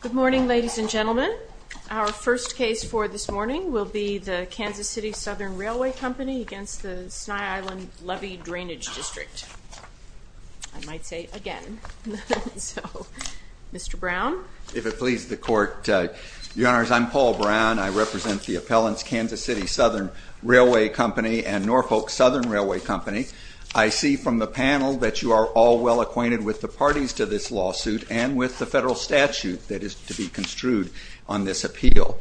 Good morning, ladies and gentlemen. Our first case for this morning will be the Kansas City Southern Railway Company against the Sny Island Levee Drainage District. I might say it again. So, Mr. Brown. If it pleases the Court, Your Honors, I'm Paul Brown. I represent the appellants Kansas City Southern Railway Company and Norfolk Southern Railway Company. I see from the panel that you are all well acquainted with the parties to this lawsuit and with the federal statute that is to be construed on this appeal.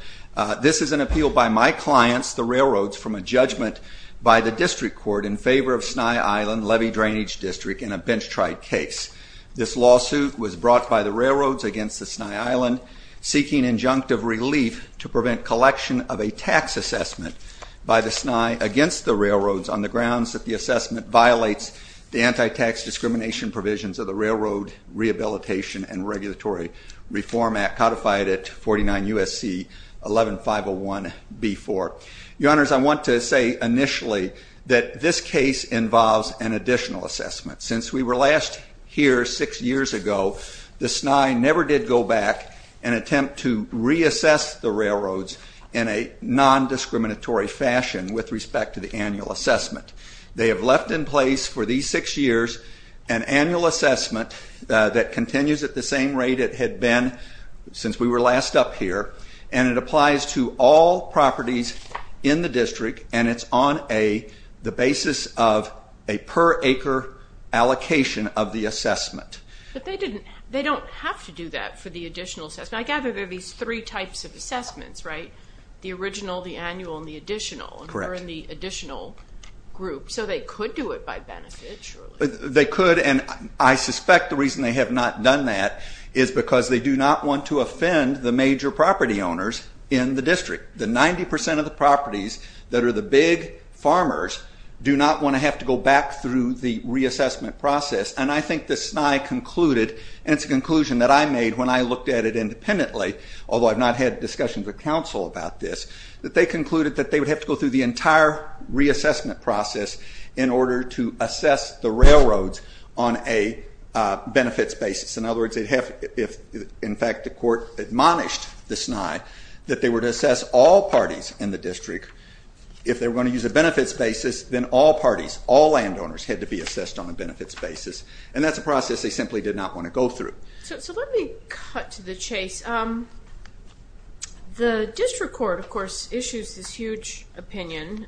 This is an appeal by my clients, the railroads, from a judgment by the district court in favor of Sny Island Levee Drainage District in a bench-tried case. This lawsuit was brought by the railroads against the Sny Island seeking injunctive relief to prevent collection of a tax assessment by the Sny against the railroads on the grounds that the assessment violates the anti-tax discrimination provisions of the Railroad Rehabilitation and Regulatory Reform Act codified at 49 U.S.C. 11501B4. Your Honors, I want to say initially that this case involves an additional assessment. Since we were last here six years ago, the Sny never did go back and attempt to reassess the railroads in a non-discriminatory fashion with respect to the annual assessment. They have left in place for these six years an annual assessment that continues at the same rate it had been since we were last up here. And it applies to all properties in the district, and it's on the basis of a per acre allocation of the assessment. But they don't have to do that for the additional assessment. I gather there are these three types of assessments, right? The original, the annual, and the additional. Correct. And we're in the additional group, so they could do it by benefit, surely. They could, and I suspect the reason they have not done that is because they do not want to offend the major property owners in the district. The 90% of the properties that are the big farmers do not want to have to go back through the reassessment process. And I think the Sny concluded, and it's a conclusion that I made when I looked at it independently, although I've not had discussions with counsel about this, that they concluded that they would have to go through the entire reassessment process in order to assess the railroads on a benefits basis. In other words, if in fact the court admonished the Sny that they were to assess all parties in the district, if they were going to use a benefits basis, then all parties, all landowners, had to be assessed on a benefits basis. And that's a process they simply did not want to go through. So let me cut to the chase. The district court, of course, issues this huge opinion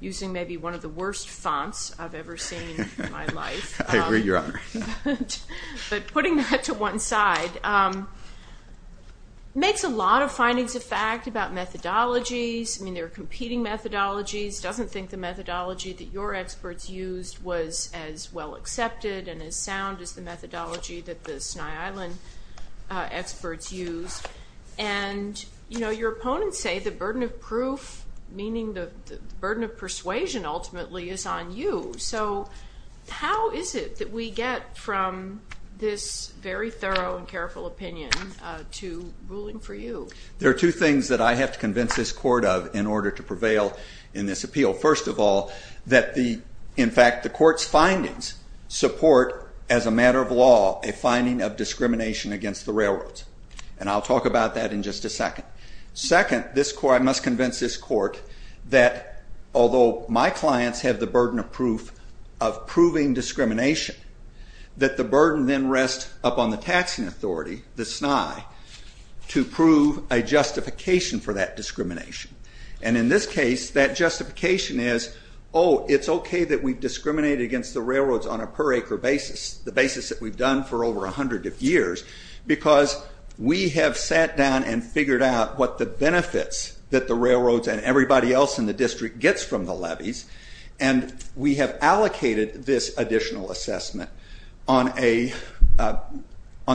using maybe one of the worst fonts I've ever seen in my life. I agree, Your Honor. But putting that to one side makes a lot of findings of fact about methodologies. I mean, there are competing methodologies. Doesn't think the methodology that your experts used was as well accepted and as sound as the methodology that the Sny Island experts used. And your opponents say the burden of proof, meaning the burden of persuasion ultimately, is on you. So how is it that we get from this very thorough and careful opinion to ruling for you? There are two things that I have to convince this court of in order to prevail in this appeal. First of all, that in fact the court's findings support as a matter of law a finding of discrimination against the railroads. And I'll talk about that in just a second. Second, I must convince this court that although my clients have the burden of proof of proving discrimination, that the burden then rests upon the taxing authority, the Sny, to prove a justification for that discrimination. And in this case, that justification is, oh, it's okay that we've discriminated against the railroads on a per acre basis, the basis that we've done for over a hundred years, because we have sat down and figured out what the benefits that the railroads and everybody else in the district gets from the levies, and we have allocated this additional assessment on the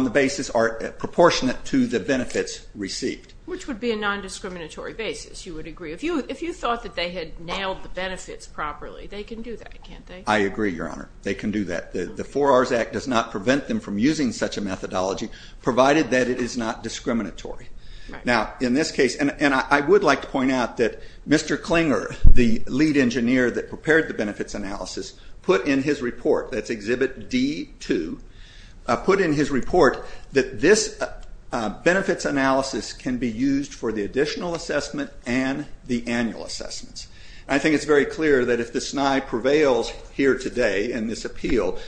basis proportionate to the benefits received. Which would be a non-discriminatory basis, you would agree. If you thought that they had nailed the benefits properly, they can do that, can't they? I agree, Your Honor. They can do that. The Four R's Act does not prevent them from using such a methodology, provided that it is not discriminatory. Now, in this case, and I would like to point out that Mr. Klinger, the lead engineer that prepared the benefits analysis, put in his report, that's Exhibit D-2, put in his report that this benefits analysis can be used for the additional assessment and the annual assessments. I think it's very clear that if the Sny prevails here today in this appeal,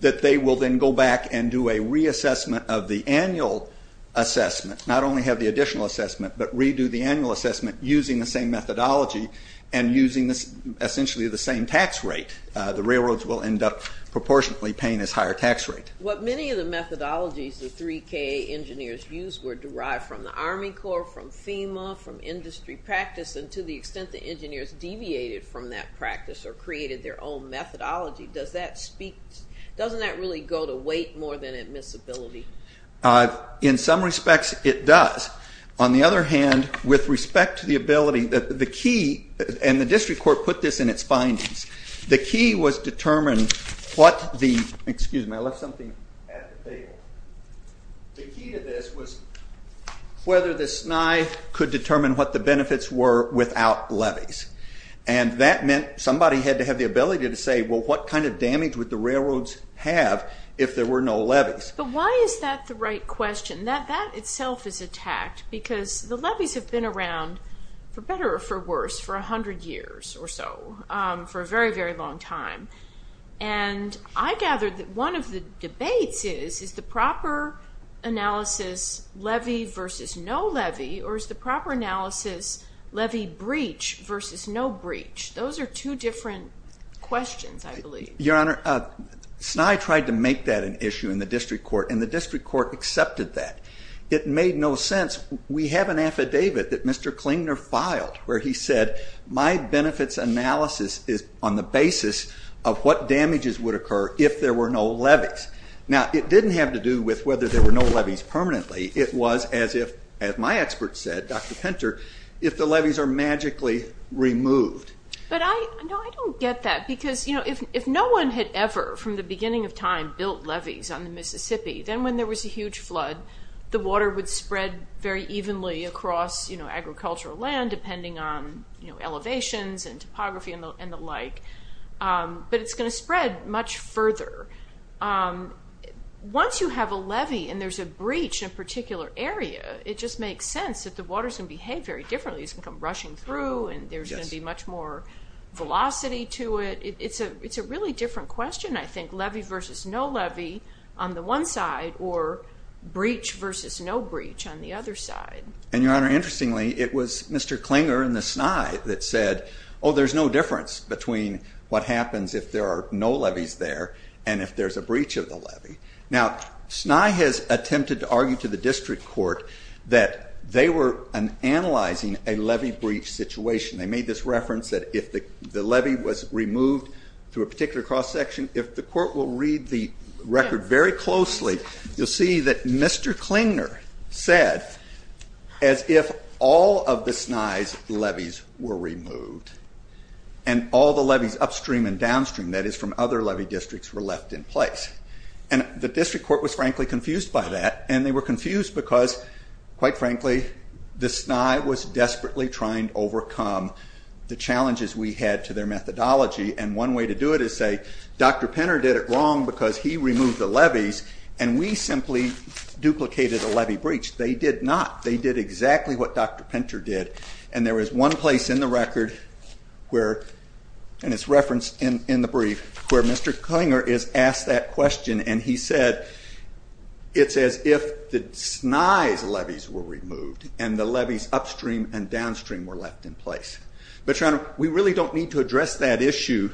that they will then go back and do a reassessment of the annual assessment, not only have the additional assessment, but redo the annual assessment using the same methodology and using essentially the same tax rate. The railroads will end up proportionately paying this higher tax rate. What many of the methodologies the 3KA engineers used were derived from the Army Corps, from FEMA, from industry practice, and to the extent the engineers deviated from that practice or created their own methodology, does that speak, doesn't that really go to weight more than admissibility? In some respects, it does. On the other hand, with respect to the ability, the key, and the district court put this in its findings, the key was determined what the, excuse me, I left something at the table. The key to this was whether the Sny could determine what the benefits were without levies. And that meant somebody had to have the ability to say, well, what kind of damage would the railroads have if there were no levies? But why is that the right question? That itself is a tact, because the levies have been around, for better or for worse, for 100 years or so, for a very, very long time. And I gather that one of the debates is, is the proper analysis levy versus no levy, or is the proper analysis levy breach versus no breach? Those are two different questions, I believe. Your Honor, Sny tried to make that an issue in the district court, and the district court accepted that. It made no sense. We have an affidavit that Mr. Klingner filed where he said, my benefits analysis is on the basis of what damages would occur if there were no levies. Now, it didn't have to do with whether there were no levies permanently. It was as if, as my expert said, Dr. Pinter, if the levies are magically removed. But I don't get that, because if no one had ever, from the beginning of time, built levies on the Mississippi, then when there was a huge flood, the water would spread very evenly across agricultural land, depending on elevations and topography and the like. But it's going to spread much further. Once you have a levy and there's a breach in a particular area, it just makes sense that the water's going to behave very differently. It's going to come rushing through, and there's going to be much more velocity to it. It's a really different question, I think, levy versus no levy on the one side, or breach versus no breach on the other side. And, Your Honor, interestingly, it was Mr. Klingner and the Sny that said, oh, there's no difference between what happens if there are no levies there, and if there's a breach of the levy. Now, Sny has attempted to argue to the district court that they were analyzing a levy breach situation. They made this reference that if the levy was removed through a particular cross-section, if the court will read the record very closely, you'll see that Mr. Klingner said, as if all of the Sny's levies were removed, and all the levies upstream and downstream, that is from other levy districts, were left in place. And the district court was frankly confused by that, and they were confused because, quite frankly, the Sny was desperately trying to overcome the challenges we had to their methodology, and one way to do it is say, Dr. Pinter did it wrong because he removed the levies, and we simply duplicated a levy breach. They did not. They did exactly what Dr. Pinter did, and there is one place in the record where, and it's referenced in the brief, where Mr. Klingner is asked that question, and he said, it's as if the Sny's levies were removed, and the levies upstream and downstream were left in place. But, Your Honor, we really don't need to address that issue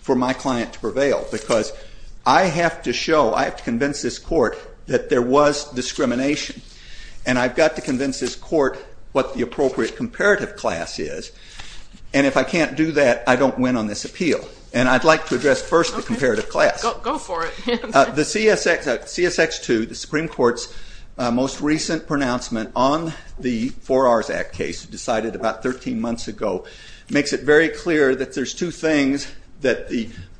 for my client to prevail, because I have to show, I have to convince this court that there was discrimination, and I've got to convince this court what the appropriate comparative class is, and if I can't do that, I don't win on this appeal, and I'd like to address first the comparative class. Go for it. The CSX2, the Supreme Court's most recent pronouncement on the 4R's Act case, decided about 13 months ago, makes it very clear that there's two things that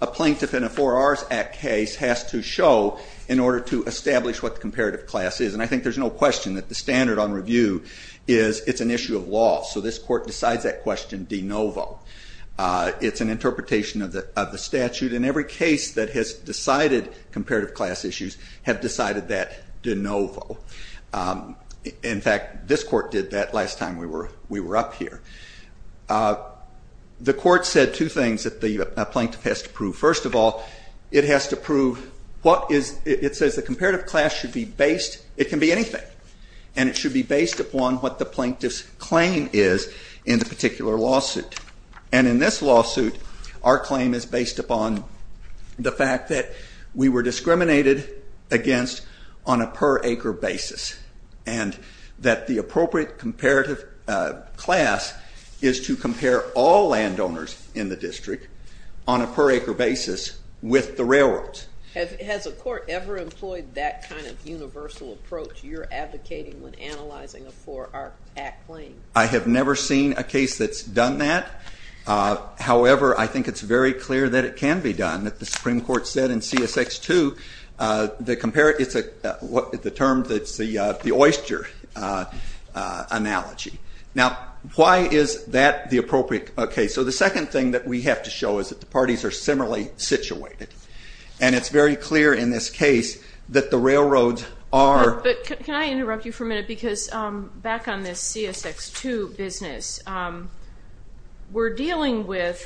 a plaintiff in a 4R's Act case has to show in order to establish what the comparative class is, and I think there's no question that the standard on review is it's an issue of law, so this court decides that question de novo. It's an interpretation of the statute, and every case that has decided comparative class issues have decided that de novo. In fact, this court did that last time we were up here. The court said two things that the plaintiff has to prove. First of all, it has to prove what is, it says the comparative class should be based, it can be anything, and it should be based upon what the plaintiff's claim is in the particular lawsuit, and in this lawsuit, our claim is based upon the fact that we were discriminated against on a per acre basis, and that the appropriate comparative class is to compare all landowners in the district on a per acre basis with the railroads. Has a court ever employed that kind of universal approach you're advocating when analyzing a 4R Act claim? I have never seen a case that's done that. However, I think it's very clear that it can be done, that the Supreme Court said in CSX 2, the term that's the oyster analogy. Now, why is that the appropriate case? So the second thing that we have to show is that the parties are similarly situated, and it's very clear in this case that the railroads are... But can I interrupt you for a minute? Because back on this CSX 2 business, we're dealing with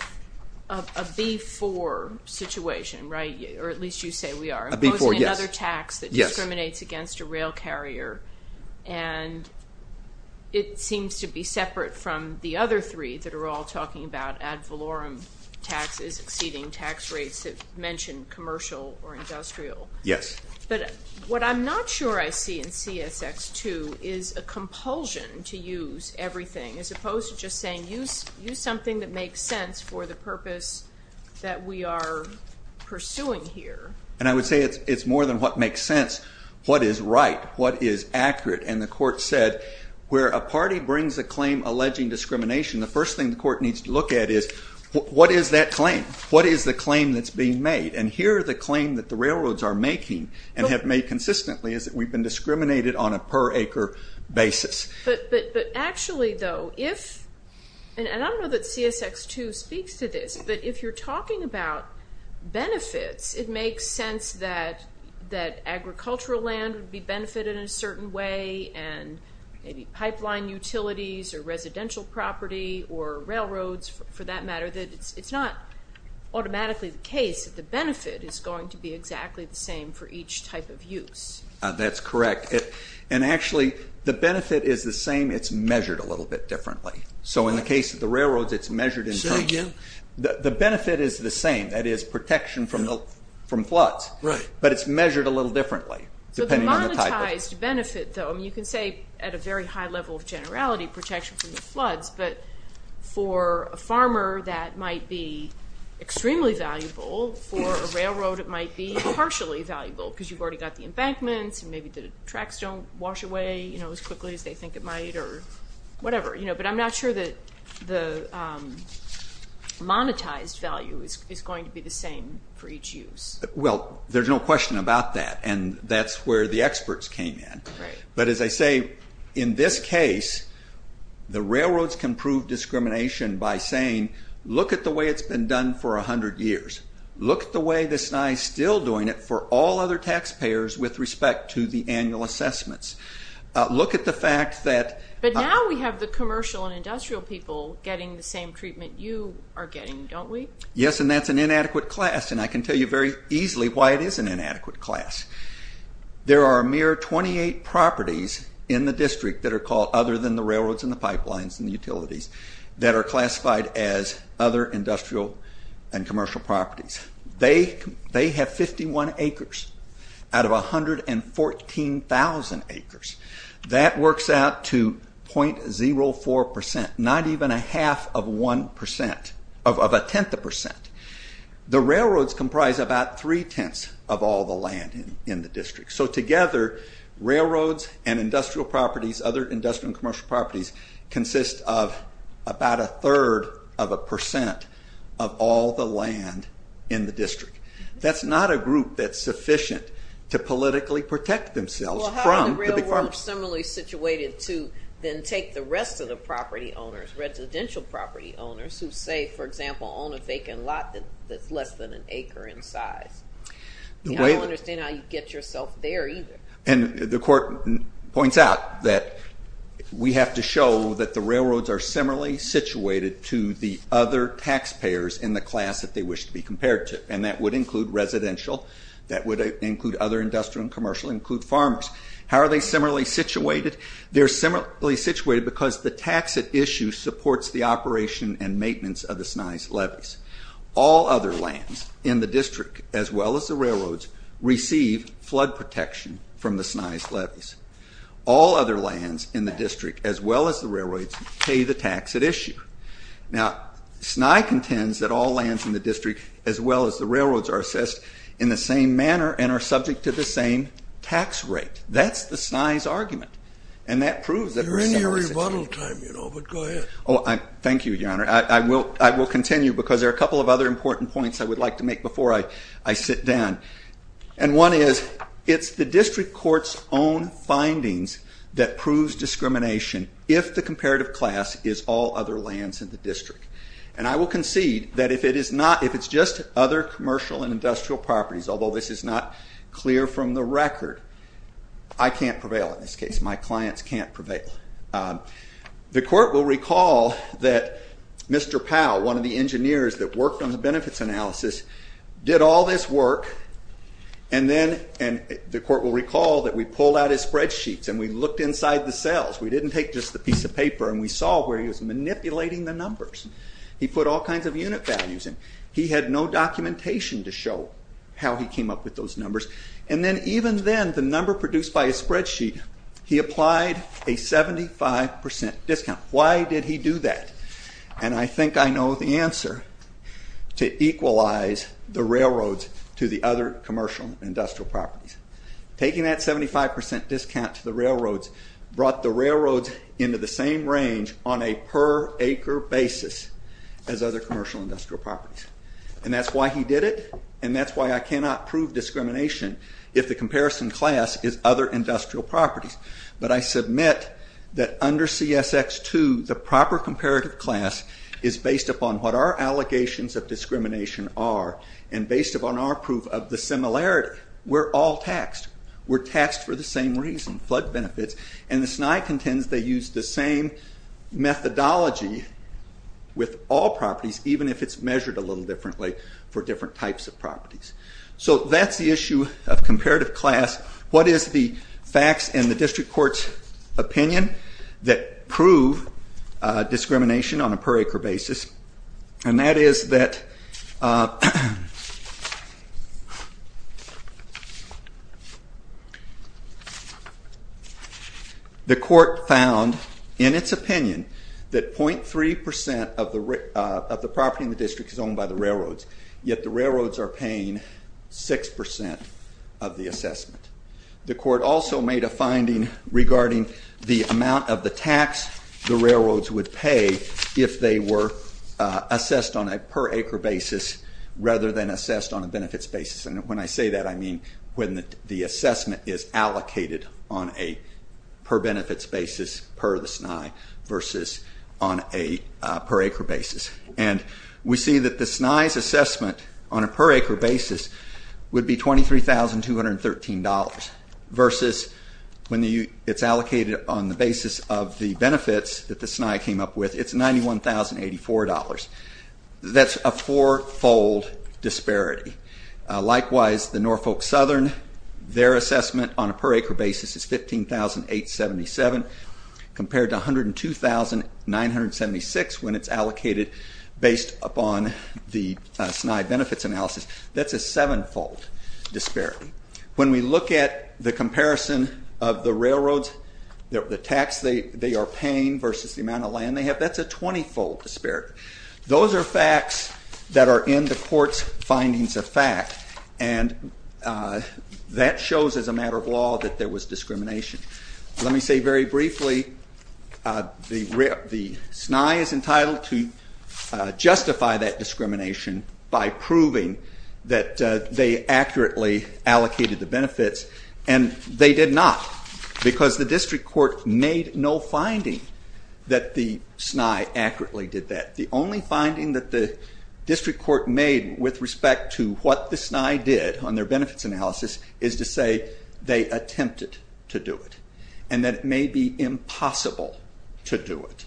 a B4 situation, right? Or at least you say we are. A B4, yes. Imposing another tax that discriminates against a rail carrier, and it seems to be separate from the other three that are all talking about ad valorem taxes exceeding tax rates that mention commercial or industrial. Yes. But what I'm not sure I see in CSX 2 is a compulsion to use everything, as opposed to just saying use something that makes sense for the purpose that we are pursuing here. And I would say it's more than what makes sense. What is right? What is accurate? And the court said where a party brings a claim alleging discrimination, the first thing the court needs to look at is what is that claim? What is the claim that's being made? And here the claim that the railroads are making and have made consistently is that we've been discriminated on a per acre basis. But actually though, if... And I don't know that CSX 2 speaks to this, but if you're talking about benefits, it makes sense that agricultural land would be benefited in a certain way, and maybe pipeline utilities or residential property or railroads, for that matter, that it's not automatically the case that the benefit is going to be exactly the same for each type of use. That's correct. And actually the benefit is the same, it's measured a little bit differently. So in the case of the railroads, it's measured in terms of... Say again? The benefit is the same, that is protection from floods. Right. But it's measured a little differently depending on the type of... Monetized benefit though, you can say at a very high level of generality, protection from the floods, but for a farmer that might be extremely valuable, for a railroad it might be partially valuable because you've already got the embankments and maybe the tracks don't wash away as quickly as they think it might or whatever. But I'm not sure that the monetized value is going to be the same for each use. Well, there's no question about that, and that's where the experts came in. Right. But as I say, in this case, the railroads can prove discrimination by saying, look at the way it's been done for 100 years. Look at the way the SNI is still doing it for all other taxpayers with respect to the annual assessments. Look at the fact that... But now we have the commercial and industrial people getting the same treatment you are getting, don't we? Yes, and that's an inadequate class, and I can tell you very easily why it is an inadequate class. There are a mere 28 properties in the district that are called, other than the railroads and the pipelines and the utilities, that are classified as other industrial and commercial properties. They have 51 acres out of 114,000 acres. That works out to 0.04%, not even a half of 1%, of a tenth of a percent. The railroads comprise about three-tenths of all the land in the district. So together, railroads and industrial properties, other industrial and commercial properties, consist of about a third of a percent of all the land in the district. That's not a group that's sufficient to politically protect themselves from the big farmers. Well, how are the railroads similarly situated to then take the rest of the property owners, residential property owners, who say, for example, own a vacant lot that's less than an acre in size? I don't understand how you get yourself there either. And the court points out that we have to show that the railroads are similarly situated to the other taxpayers in the class that they wish to be compared to, and that would include residential, that would include other industrial and commercial, include farmers. How are they similarly situated? They're similarly situated because the tax at issue supports the operation and maintenance of the SNI's levies. All other lands in the district, as well as the railroads, receive flood protection from the SNI's levies. All other lands in the district, as well as the railroads, pay the tax at issue. Now, SNI contends that all lands in the district, as well as the railroads, are assessed in the same manner and are subject to the same tax rate. That's the SNI's argument, and that proves that we're similarly situated. You're in your rebuttal time, you know, but go ahead. Thank you, Your Honor. I will continue because there are a couple of other important points I would like to make before I sit down. And one is, it's the district court's own findings that proves discrimination if the comparative class is all other lands in the district. And I will concede that if it's just other commercial and industrial properties, although this is not clear from the record, I can't prevail in this case. My clients can't prevail. The court will recall that Mr. Powell, one of the engineers that worked on the benefits analysis, did all this work, and the court will recall that we pulled out his spreadsheets and we looked inside the cells. We didn't take just the piece of paper and we saw where he was manipulating the numbers. He put all kinds of unit values in. He had no documentation to show how he came up with those numbers. And then even then, the number produced by his spreadsheet, he applied a 75% discount. Why did he do that? And I think I know the answer. To equalize the railroads to the other commercial and industrial properties. Taking that 75% discount to the railroads brought the railroads into the same range on a per acre basis as other commercial and industrial properties. And that's why he did it, and that's why I cannot prove discrimination if the comparison class is other industrial properties. But I submit that under CSX-2, the proper comparative class is based upon what our allegations of discrimination are and based upon our proof of the similarity. We're all taxed. We're taxed for the same reason, flood benefits. And the SNI contends they use the same methodology with all properties, even if it's measured a little differently for different types of properties. So that's the issue of comparative class. What is the facts and the district court's opinion that prove discrimination on a per acre basis? And that is that the court found in its opinion that .3% of the property in the district is owned by the railroads, yet the railroads are paying 6% of the assessment. The court also made a finding regarding the amount of the tax the railroads would pay if they were assessed on a per acre basis rather than assessed on a benefits basis. And when I say that, I mean when the assessment is allocated on a per benefits basis per the SNI versus on a per acre basis. And we see that the SNI's assessment on a per acre basis would be $23,213 versus when it's allocated on the basis of the benefits that the SNI came up with, it's $91,084. That's a four-fold disparity. Likewise, the Norfolk Southern, their assessment on a per acre basis is $15,877 compared to $102,976 when it's allocated based upon the SNI benefits analysis. That's a seven-fold disparity. When we look at the comparison of the railroads, the tax they are paying versus the amount of land they have, that's a 20-fold disparity. Those are facts that are in the court's findings of fact, and that shows as a matter of law that there was discrimination. Let me say very briefly, the SNI is entitled to justify that discrimination by proving that they accurately allocated the benefits, and they did not because the district court made no finding that the SNI accurately did that. The only finding that the district court made with respect to what the SNI did on their benefits analysis is to say they attempted to do it and that it may be impossible to do it.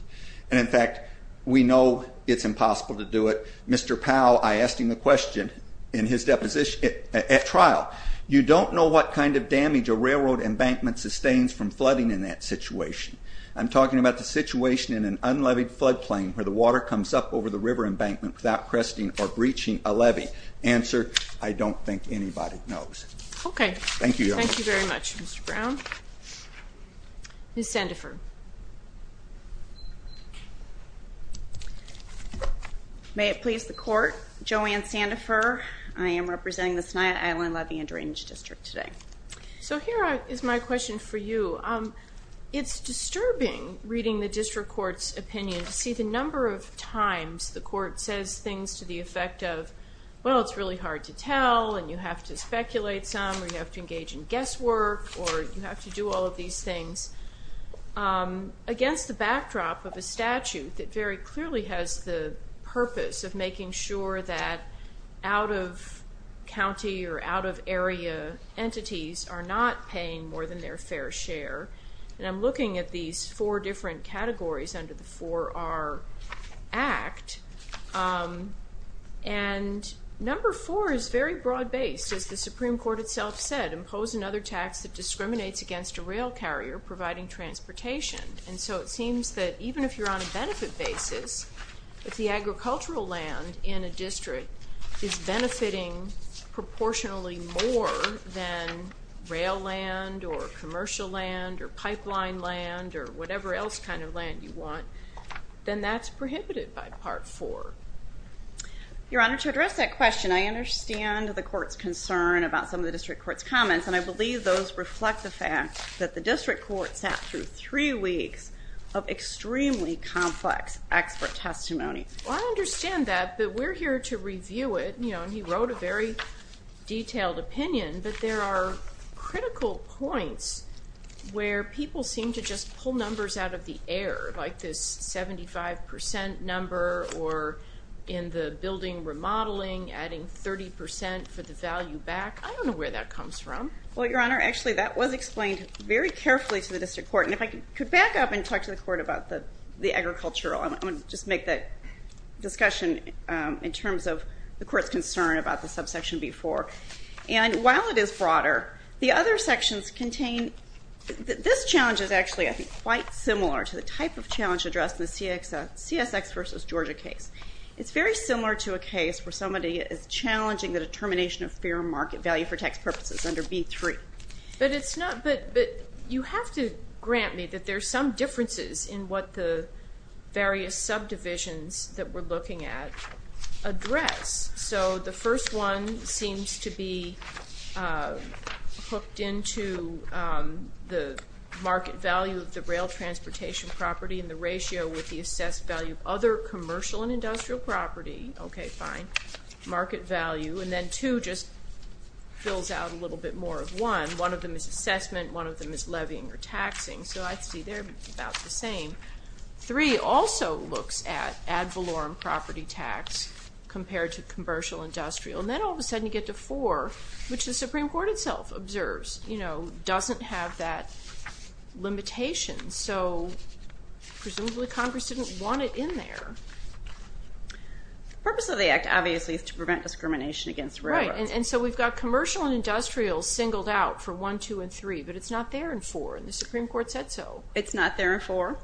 And in fact, we know it's impossible to do it. Mr. Powell, I asked him the question in his deposition at trial, you don't know what kind of damage a railroad embankment sustains from flooding in that situation. I'm talking about the situation in an unleavied floodplain where the water comes up over the river embankment without cresting or breaching a levee. Answer, I don't think anybody knows. Okay. Thank you very much, Mr. Brown. Ms. Sandifer. May it please the court, Joanne Sandifer. I am representing the Sny Island Levy and Drainage District today. So here is my question for you. It's disturbing reading the district court's opinion to see the number of times the court says things to the effect of, well, it's really hard to tell and you have to speculate some or you have to engage in guesswork or you have to do all of these things. Against the backdrop of a statute that very clearly has the purpose of making sure that out-of-county or out-of-area entities are not paying more than their fair share, and I'm looking at these four different categories under the 4R Act, and number four is very broad-based. As the Supreme Court itself said, impose another tax that discriminates against a rail carrier providing transportation. And so it seems that even if you're on a benefit basis, if the agricultural land in a district is benefiting proportionally more than rail land or commercial land or pipeline land or whatever else kind of land you want, then that's prohibited by Part 4. Your Honor, to address that question, I understand the court's concern about some of the district court's comments, and I believe those reflect the fact that the district court sat through three weeks of extremely complex expert testimony. I understand that, but we're here to review it. He wrote a very detailed opinion, but there are critical points where people seem to just pull numbers out of the air, like this 75% number or in the building remodeling, adding 30% for the value back. I don't know where that comes from. Well, Your Honor, actually that was explained very carefully to the district court. And if I could back up and talk to the court about the agricultural, I want to just make that discussion in terms of the court's concern about the subsection before. And while it is broader, the other sections contain this challenge is actually, I think, quite similar to the type of challenge addressed in the CSX versus Georgia case. It's very similar to a case where somebody is challenging the determination of fair market value for tax purposes under B3. But you have to grant me that there's some differences in what the various subdivisions that we're looking at address. So the first one seems to be hooked into the market value of the rail transportation property and the ratio with the assessed value of other commercial and industrial property. Okay, fine. Market value. And then two just fills out a little bit more of one. One of them is assessment. One of them is levying or taxing. So I see they're about the same. Three also looks at ad valorem property tax compared to commercial industrial. And then all of a sudden you get to four, which the Supreme Court itself observes, you know, doesn't have that limitation. So presumably Congress didn't want it in there. The purpose of the Act, obviously, is to prevent discrimination against railroads. Right. And so we've got commercial and industrial singled out for one, two, and three, but it's not there in four, and the Supreme Court said so. It's not there in four.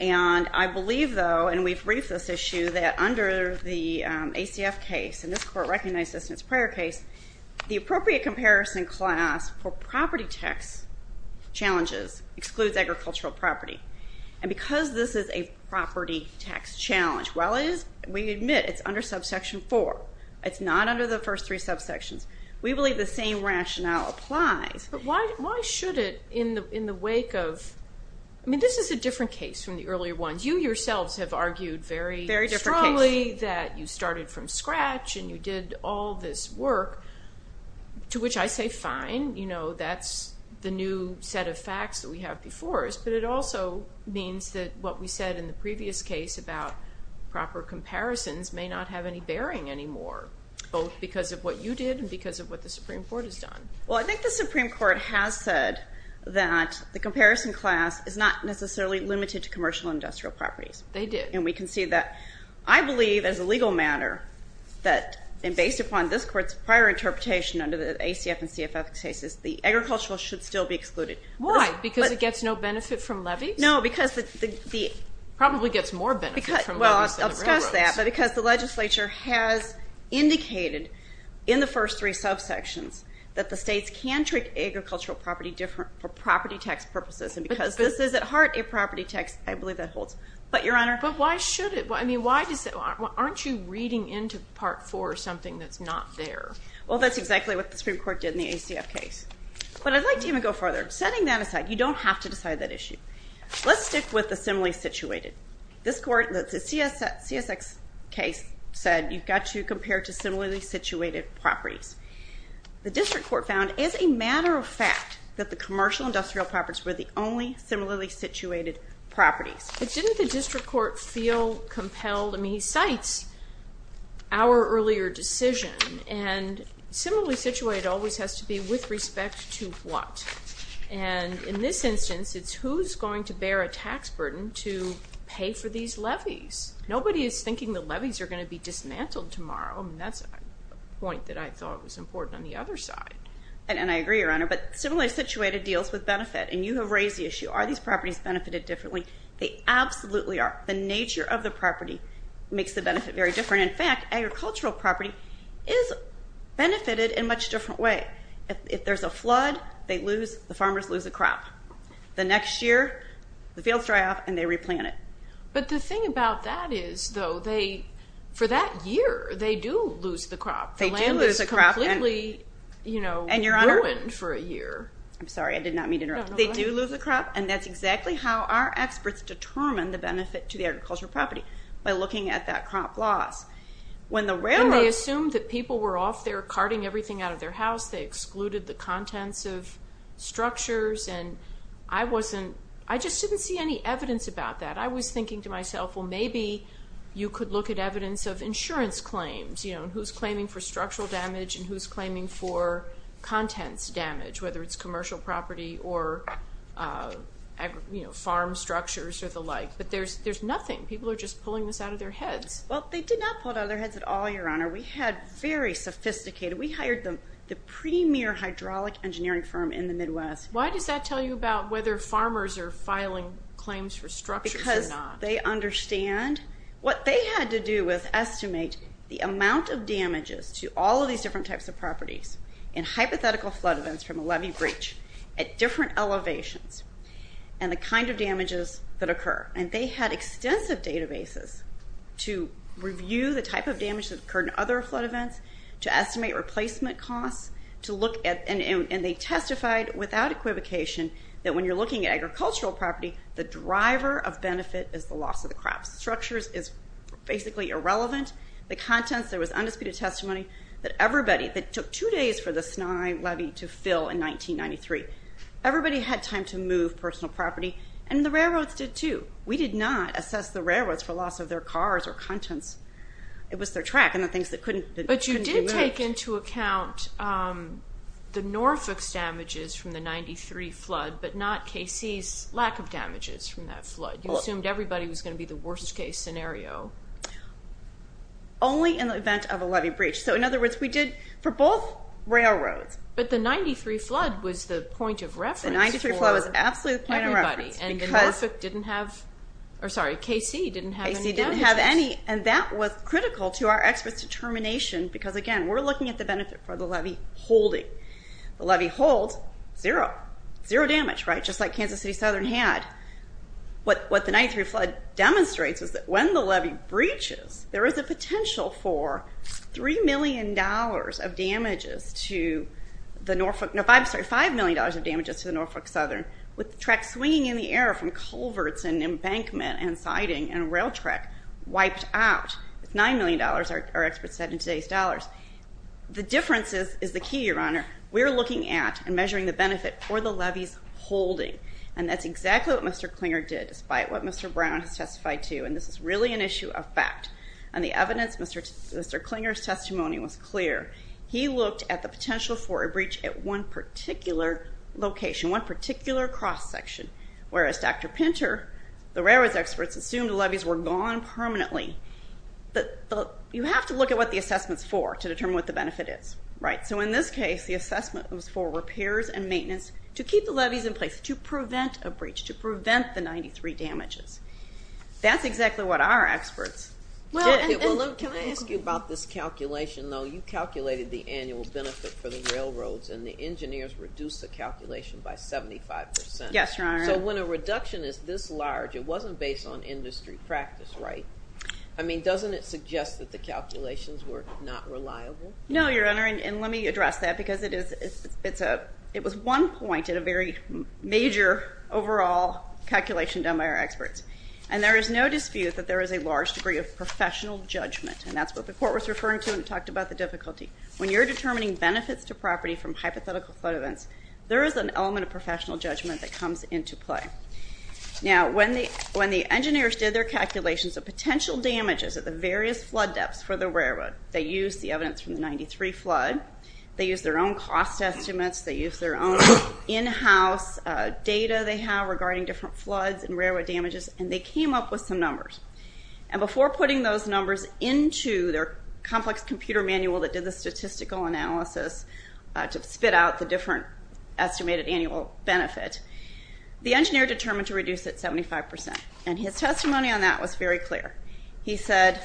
And I believe, though, and we've briefed this issue, that under the ACF case, and this Court recognized this in its prior case, the appropriate comparison class for property tax challenges excludes agricultural property. And because this is a property tax challenge, while we admit it's under subsection four, it's not under the first three subsections, we believe the same rationale applies. But why should it in the wake of, I mean, this is a different case from the earlier ones. You yourselves have argued very strongly that you started from scratch and you did all this work, to which I say fine. You know, that's the new set of facts that we have before us, but it also means that what we said in the previous case about proper comparisons may not have any bearing anymore, both because of what you did and because of what the Supreme Court has done. Well, I think the Supreme Court has said that the comparison class is not necessarily limited to commercial and industrial properties. They did. And we can see that. I believe, as a legal matter, that based upon this Court's prior interpretation under the ACF and CFF cases, the agricultural should still be excluded. Why? Because it gets no benefit from levies? No, because the – Probably gets more benefit from levies than the railroads. Well, I'll discuss that, but because the legislature has indicated in the first three subsections that the states can trick agricultural property for property tax purposes, and because this is at heart a property tax, I believe that holds. But, Your Honor – But why should it? I mean, why does it – aren't you reading into part four something that's not there? Well, that's exactly what the Supreme Court did in the ACF case. But I'd like to even go further. Setting that aside, you don't have to decide that issue. Let's stick with the similarly situated. This Court, the CSX case, said you've got to compare to similarly situated properties. The district court found, as a matter of fact, that the commercial and industrial properties were the only similarly situated properties. But didn't the district court feel compelled – I mean, he cites our earlier decision and similarly situated always has to be with respect to what? And in this instance, it's who's going to bear a tax burden to pay for these levies. Nobody is thinking the levies are going to be dismantled tomorrow, and that's a point that I thought was important on the other side. And I agree, Your Honor, but similarly situated deals with benefit, and you have raised the issue. Are these properties benefited differently? They absolutely are. The nature of the property makes the benefit very different. In fact, agricultural property is benefited in a much different way. If there's a flood, the farmers lose a crop. The next year, the fields dry off and they replant it. But the thing about that is, though, for that year, they do lose the crop. They do lose the crop. The land is completely ruined for a year. I'm sorry. I did not mean to interrupt. They do lose the crop, and that's exactly how our experts determine the benefit to the agricultural property, by looking at that crop loss. When they assumed that people were off there carting everything out of their house, they excluded the contents of structures, and I just didn't see any evidence about that. I was thinking to myself, well, maybe you could look at evidence of insurance claims, who's claiming for structural damage and who's claiming for contents damage, whether it's commercial property or farm structures or the like. But there's nothing. People are just pulling this out of their heads. Well, they did not pull it out of their heads at all, Your Honor. We had very sophisticated. We hired the premier hydraulic engineering firm in the Midwest. Why does that tell you about whether farmers are filing claims for structures or not? Because they understand what they had to do was estimate the amount of damages to all of these different types of properties in hypothetical flood events from a levee breach at different elevations and the kind of damages that occur. And they had extensive databases to review the type of damage that occurred in other flood events, to estimate replacement costs, and they testified without equivocation that when you're looking at agricultural property, the driver of benefit is the loss of the crops. Structures is basically irrelevant. The contents, there was undisputed testimony that everybody, that took two days for the Snye levee to fill in 1993. Everybody had time to move personal property, and the railroads did too. We did not assess the railroads for loss of their cars or contents. It was their track and the things that couldn't be moved. But you did take into account the Norfolk's damages from the 93 flood but not KC's lack of damages from that flood. You assumed everybody was going to be the worst-case scenario. Only in the event of a levee breach. So in other words, we did for both railroads. But the 93 flood was the point of reference for everybody, and the Norfolk didn't have, or sorry, KC didn't have any damages. KC didn't have any, and that was critical to our experts' determination because, again, we're looking at the benefit for the levee holding. The levee holds, zero, zero damage, right, just like Kansas City Southern had. What the 93 flood demonstrates is that when the levee breaches, there is a potential for $3 million of damages to the Norfolk, no, sorry, $5 million of damages to the Norfolk Southern with the track swinging in the air from culverts and embankment and siding and rail track wiped out. It's $9 million, our experts said, in today's dollars. The difference is the key, Your Honor. We're looking at and measuring the benefit for the levee's holding, and that's exactly what Mr. Klinger did despite what Mr. Brown has testified to, and this is really an issue of fact. And the evidence, Mr. Klinger's testimony was clear. He looked at the potential for a breach at one particular location, one particular cross-section, whereas Dr. Pinter, the railroads experts assumed the levees were gone permanently. You have to look at what the assessment's for to determine what the benefit is, right? So in this case, the assessment was for repairs and maintenance to keep the levees in place, to prevent a breach, to prevent the 93 damages. That's exactly what our experts did. Can I ask you about this calculation, though? You calculated the annual benefit for the railroads, and the engineers reduced the calculation by 75%. Yes, Your Honor. So when a reduction is this large, it wasn't based on industry practice, right? I mean, doesn't it suggest that the calculations were not reliable? No, Your Honor, and let me address that because it was one point in a very major overall calculation done by our experts. And there is no dispute that there is a large degree of professional judgment, and that's what the Court was referring to when it talked about the difficulty. When you're determining benefits to property from hypothetical flood events, there is an element of professional judgment that comes into play. Now, when the engineers did their calculations of potential damages at the various flood depths for the railroad, they used the evidence from the 93 flood, they used their own cost estimates, they used their own in-house data they have regarding different floods and railroad damages, and they came up with some numbers. And before putting those numbers into their complex computer manual that did the statistical analysis to spit out the different estimated annual benefit, the engineer determined to reduce it 75%. And his testimony on that was very clear. He said,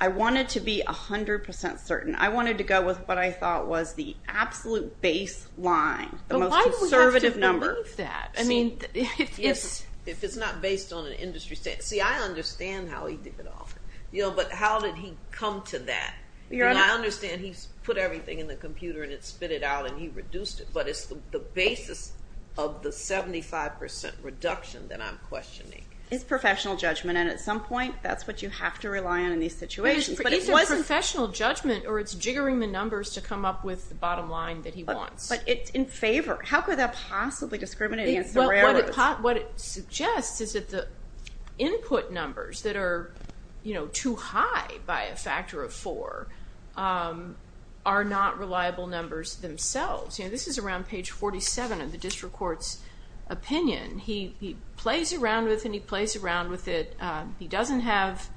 I wanted to be 100% certain. I wanted to go with what I thought was the absolute baseline, the most conservative number. But why do we have to believe that? If it's not based on an industry standard. See, I understand how he did it all, but how did he come to that? I understand he put everything in the computer and it spit it out and he reduced it, but it's the basis of the 75% reduction that I'm questioning. It's professional judgment, and at some point, that's what you have to rely on in these situations. But it wasn't professional judgment, or it's jiggering the numbers to come up with the bottom line that he wants. But it's in favor. How could that possibly discriminate against the railroads? What it suggests is that the input numbers that are too high by a factor of four are not reliable numbers themselves. This is around page 47 of the district court's opinion. He plays around with it and he plays around with it. He doesn't have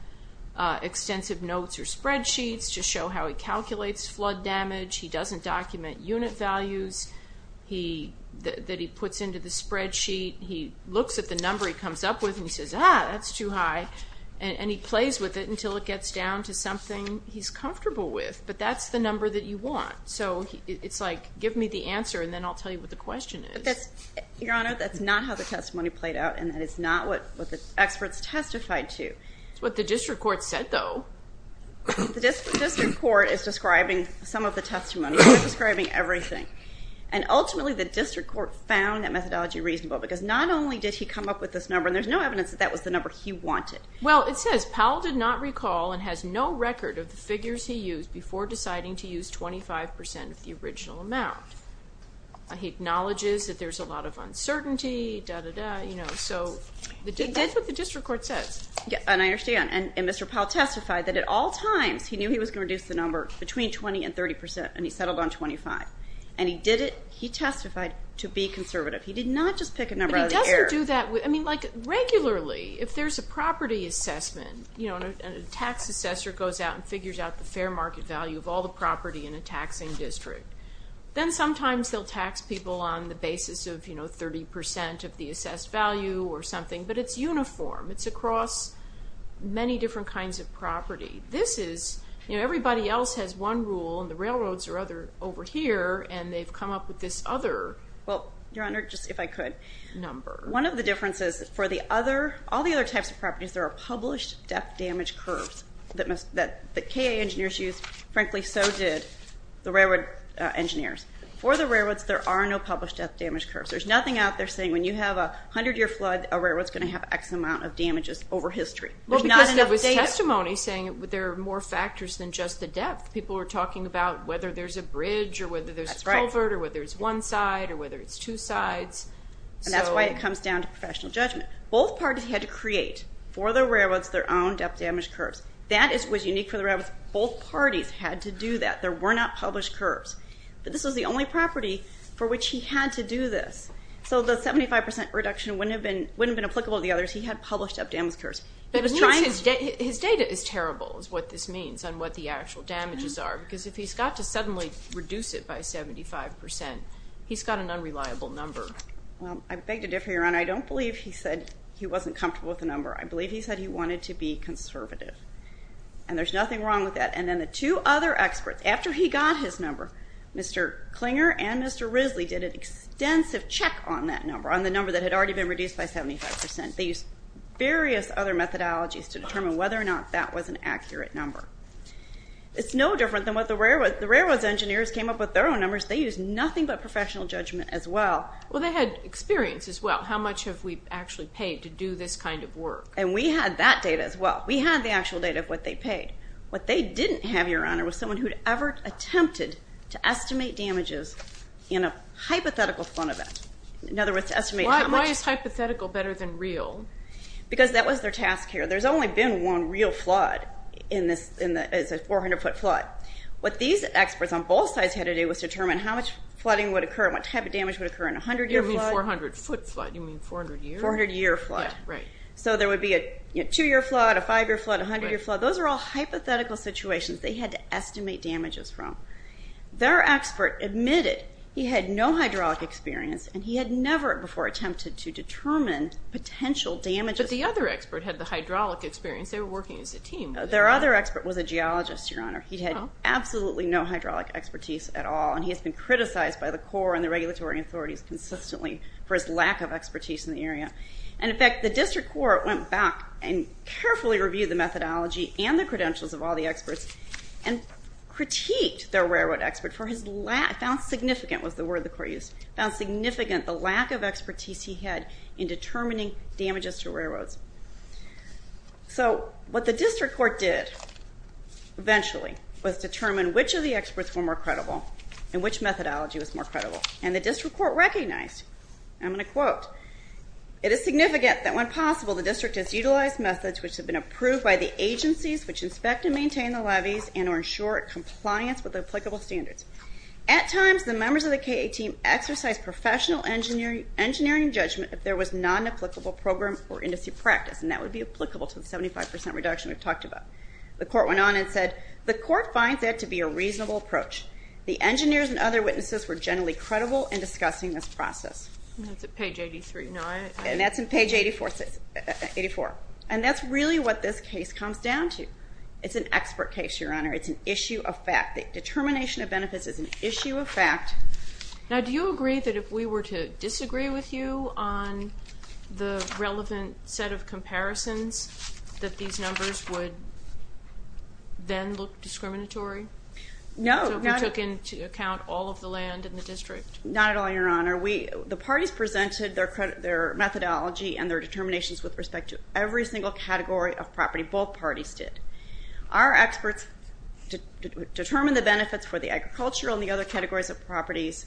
extensive notes or spreadsheets to show how he calculates flood damage. He doesn't document unit values that he puts into the spreadsheet. He looks at the number he comes up with and he says, ah, that's too high, and he plays with it until it gets down to something he's comfortable with. But that's the number that you want. So it's like, give me the answer and then I'll tell you what the question is. Your Honor, that's not how the testimony played out, and that is not what the experts testified to. It's what the district court said, though. The district court is describing some of the testimony. They're describing everything. Ultimately, the district court found that methodology reasonable because not only did he come up with this number, and there's no evidence that that was the number he wanted. Well, it says Powell did not recall and has no record of the figures he used before deciding to use 25% of the original amount. He acknowledges that there's a lot of uncertainty, da-da-da, you know. He did what the district court says. And I understand. And Mr. Powell testified that at all times he knew he was going to reduce the number between 20% and 30% and he settled on 25%. And he did it, he testified, to be conservative. He did not just pick a number out of the air. But he doesn't do that with, I mean, like regularly, if there's a property assessment and a tax assessor goes out and figures out the fair market value of all the property in a taxing district, then sometimes they'll tax people on the basis of, you know, 30% of the assessed value or something. But it's uniform. It's across many different kinds of property. This is, you know, everybody else has one rule and the railroads are over here and they've come up with this other number. Well, Your Honor, just if I could. One of the differences for the other, all the other types of properties, there are published debt damage curves that the KA engineers used. Frankly, so did the railroad engineers. For the railroads, there are no published debt damage curves. There's nothing out there saying when you have a 100-year flood, a railroad's going to have X amount of damages over history. Well, because there was testimony saying there are more factors than just the depth. People were talking about whether there's a bridge or whether there's a culvert or whether it's one side or whether it's two sides. And that's why it comes down to professional judgment. Both parties had to create, for the railroads, their own debt damage curves. That was unique for the railroads. Both parties had to do that. There were not published curves. But this was the only property for which he had to do this. So the 75% reduction wouldn't have been applicable to the others. He had published debt damage curves. His data is terrible is what this means on what the actual damages are because if he's got to suddenly reduce it by 75%, he's got an unreliable number. Well, I beg to differ, Your Honor. I don't believe he said he wasn't comfortable with the number. I believe he said he wanted to be conservative. And there's nothing wrong with that. And then the two other experts, after he got his number, Mr. Klinger and Mr. Risley did an extensive check on that number, on the number that had already been reduced by 75%. They used various other methodologies to determine whether or not that was an accurate number. It's no different than what the railroads. The railroads engineers came up with their own numbers. They used nothing but professional judgment as well. Well, they had experience as well. How much have we actually paid to do this kind of work? And we had that data as well. We had the actual data of what they paid. What they didn't have, Your Honor, was someone who had ever attempted to estimate damages in a hypothetical flood event. In other words, to estimate how much. Why is hypothetical better than real? Because that was their task here. There's only been one real flood in this 400-foot flood. What these experts on both sides had to do was determine how much flooding would occur and what type of damage would occur in a 100-year flood. You mean 400-foot flood. You mean 400 years? 400-year flood. Yeah, right. So there would be a 2-year flood, a 5-year flood, a 100-year flood. Those are all hypothetical situations they had to estimate damages from. Their expert admitted he had no hydraulic experience, and he had never before attempted to determine potential damages. But the other expert had the hydraulic experience. They were working as a team. Their other expert was a geologist, Your Honor. He had absolutely no hydraulic expertise at all, and he has been criticized by the Corps and the regulatory authorities consistently for his lack of expertise in the area. And, in fact, the district court went back and carefully reviewed the methodology and the credentials of all the experts and critiqued their railroad expert for his lack. Found significant was the word the court used. Found significant the lack of expertise he had in determining damages to railroads. So what the district court did, eventually, was determine which of the experts were more credible and which methodology was more credible. And the district court recognized. I'm going to quote. It is significant that, when possible, the district has utilized methods which have been approved by the agencies which inspect and maintain the levees and ensure compliance with applicable standards. At times, the members of the KA team exercised professional engineering judgment if there was non-applicable program or industry practice, and that would be applicable to the 75% reduction we've talked about. The court went on and said, The court finds that to be a reasonable approach. The engineers and other witnesses were generally credible in discussing this process. That's at page 83. And that's in page 84. And that's really what this case comes down to. It's an expert case, Your Honor. It's an issue of fact. Determination of benefits is an issue of fact. Now, do you agree that if we were to disagree with you on the relevant set of comparisons, that these numbers would then look discriminatory? No. So we took into account all of the land in the district? Not at all, Your Honor. The parties presented their methodology and their determinations with respect to every single category of property both parties did. Our experts determined the benefits for the agricultural and the other categories of properties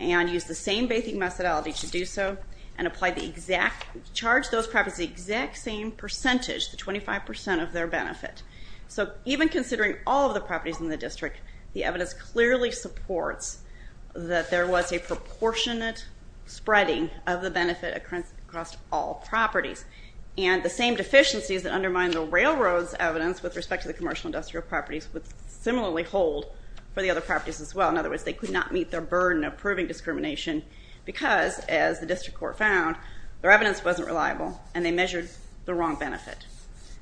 and used the same bathing methodology to do so and charged those properties the exact same percentage, the 25% of their benefit. So even considering all of the properties in the district, the evidence clearly supports that there was a proportionate spreading of the benefit across all properties. And the same deficiencies that undermine the railroad's evidence with respect to the commercial industrial properties would similarly hold for the other properties as well. In other words, they could not meet their burden of proving discrimination because, as the district court found, their evidence wasn't reliable and they measured the wrong benefit.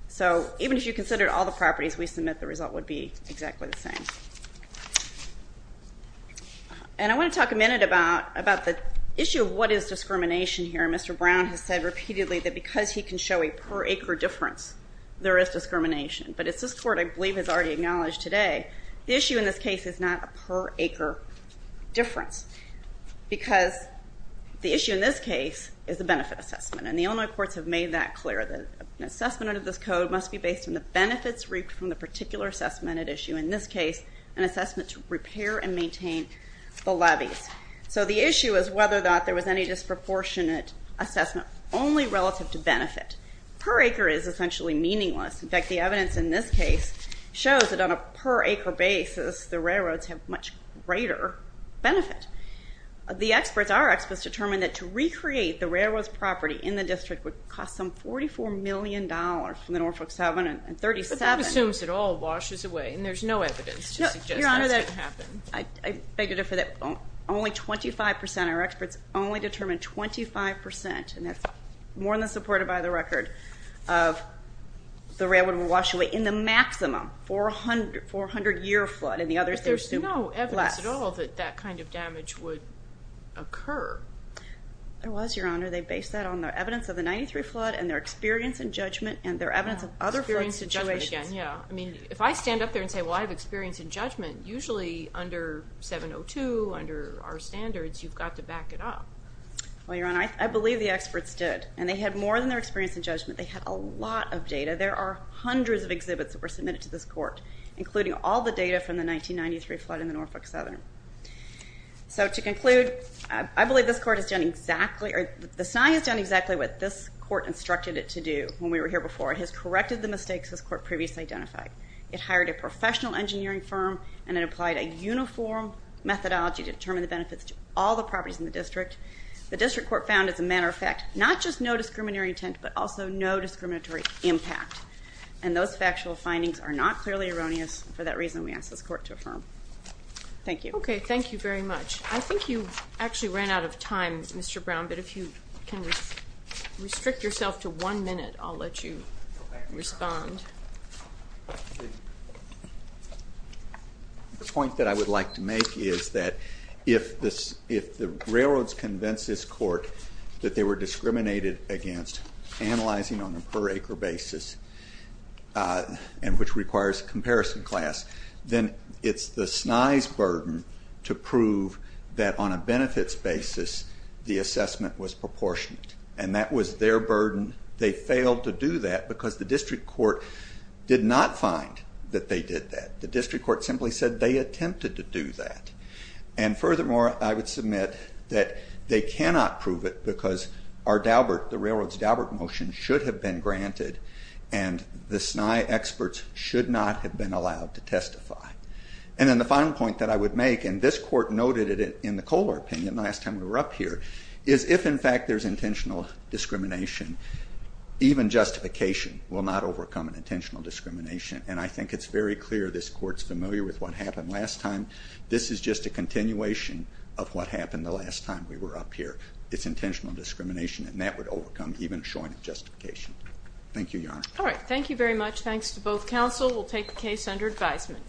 So even if you considered all the properties, we submit the result would be exactly the same. And I want to talk a minute about the issue of what is discrimination here. Mr. Brown has said repeatedly that because he can show a per acre difference, there is discrimination. But as this court, I believe, has already acknowledged today, the issue in this case is not a per acre difference because the issue in this case is a benefit assessment, and the Illinois courts have made that clear. An assessment under this code must be based on the benefits reaped from the particular assessment at issue, in this case, an assessment to repair and maintain the levees. So the issue is whether or not there was any disproportionate assessment only relative to benefit. Per acre is essentially meaningless. In fact, the evidence in this case shows that on a per acre basis, the railroads have much greater benefit. The experts, our experts, determined that to recreate the railroad's property in the district would cost some $44 million from the Norfolk 7 and 37. But that assumes it all washes away, and there's no evidence to suggest that's going to happen. Your Honor, I beg your defer that. Only 25% of our experts only determined 25%, and that's more than supported by the record, of the railroad would wash away in the maximum 400-year flood, and the others assumed less. But there's no evidence at all that that kind of damage would occur. There was, Your Honor. They based that on the evidence of the 1993 flood and their experience in judgment and their evidence of other flood situations. Experience in judgment, yeah. I mean, if I stand up there and say, well, I have experience in judgment, usually under 702, under our standards, you've got to back it up. Well, Your Honor, I believe the experts did, and they had more than their experience in judgment. They had a lot of data. There are hundreds of exhibits that were submitted to this court, including all the data from the 1993 flood in the Norfolk 7. So to conclude, I believe this court has done exactly, or the SNI has done exactly what this court instructed it to do when we were here before. It has corrected the mistakes this court previously identified. It hired a professional engineering firm, and it applied a uniform methodology to determine the benefits to all the properties in the district. The district court found, as a matter of fact, not just no discriminatory intent, but also no discriminatory impact, and those factual findings are not clearly erroneous. For that reason, we ask this court to affirm. Thank you. Okay. Thank you very much. I think you actually ran out of time, Mr. Brown, but if you can restrict yourself to one minute, I'll let you respond. The point that I would like to make is that if the railroads convinced this court that they were discriminated against, analyzing on a per-acre basis, and which requires comparison class, then it's the SNI's burden to prove that on a benefits basis the assessment was proportionate, and that was their burden. They failed to do that because the district court did not find that they did that. The district court simply said they attempted to do that, and furthermore, I would submit that they cannot prove it because our Daubert, the railroads' Daubert motion, should have been granted, and the SNI experts should not have been able to justify. And then the final point that I would make, and this court noted it in the Kohler opinion last time we were up here, is if, in fact, there's intentional discrimination, even justification will not overcome an intentional discrimination, and I think it's very clear this court's familiar with what happened last time. This is just a continuation of what happened the last time we were up here. It's intentional discrimination, and that would overcome even showing justification. Thank you, Your Honor. All right. Thank you very much. Thanks to both counsel. We'll take the case under advisement.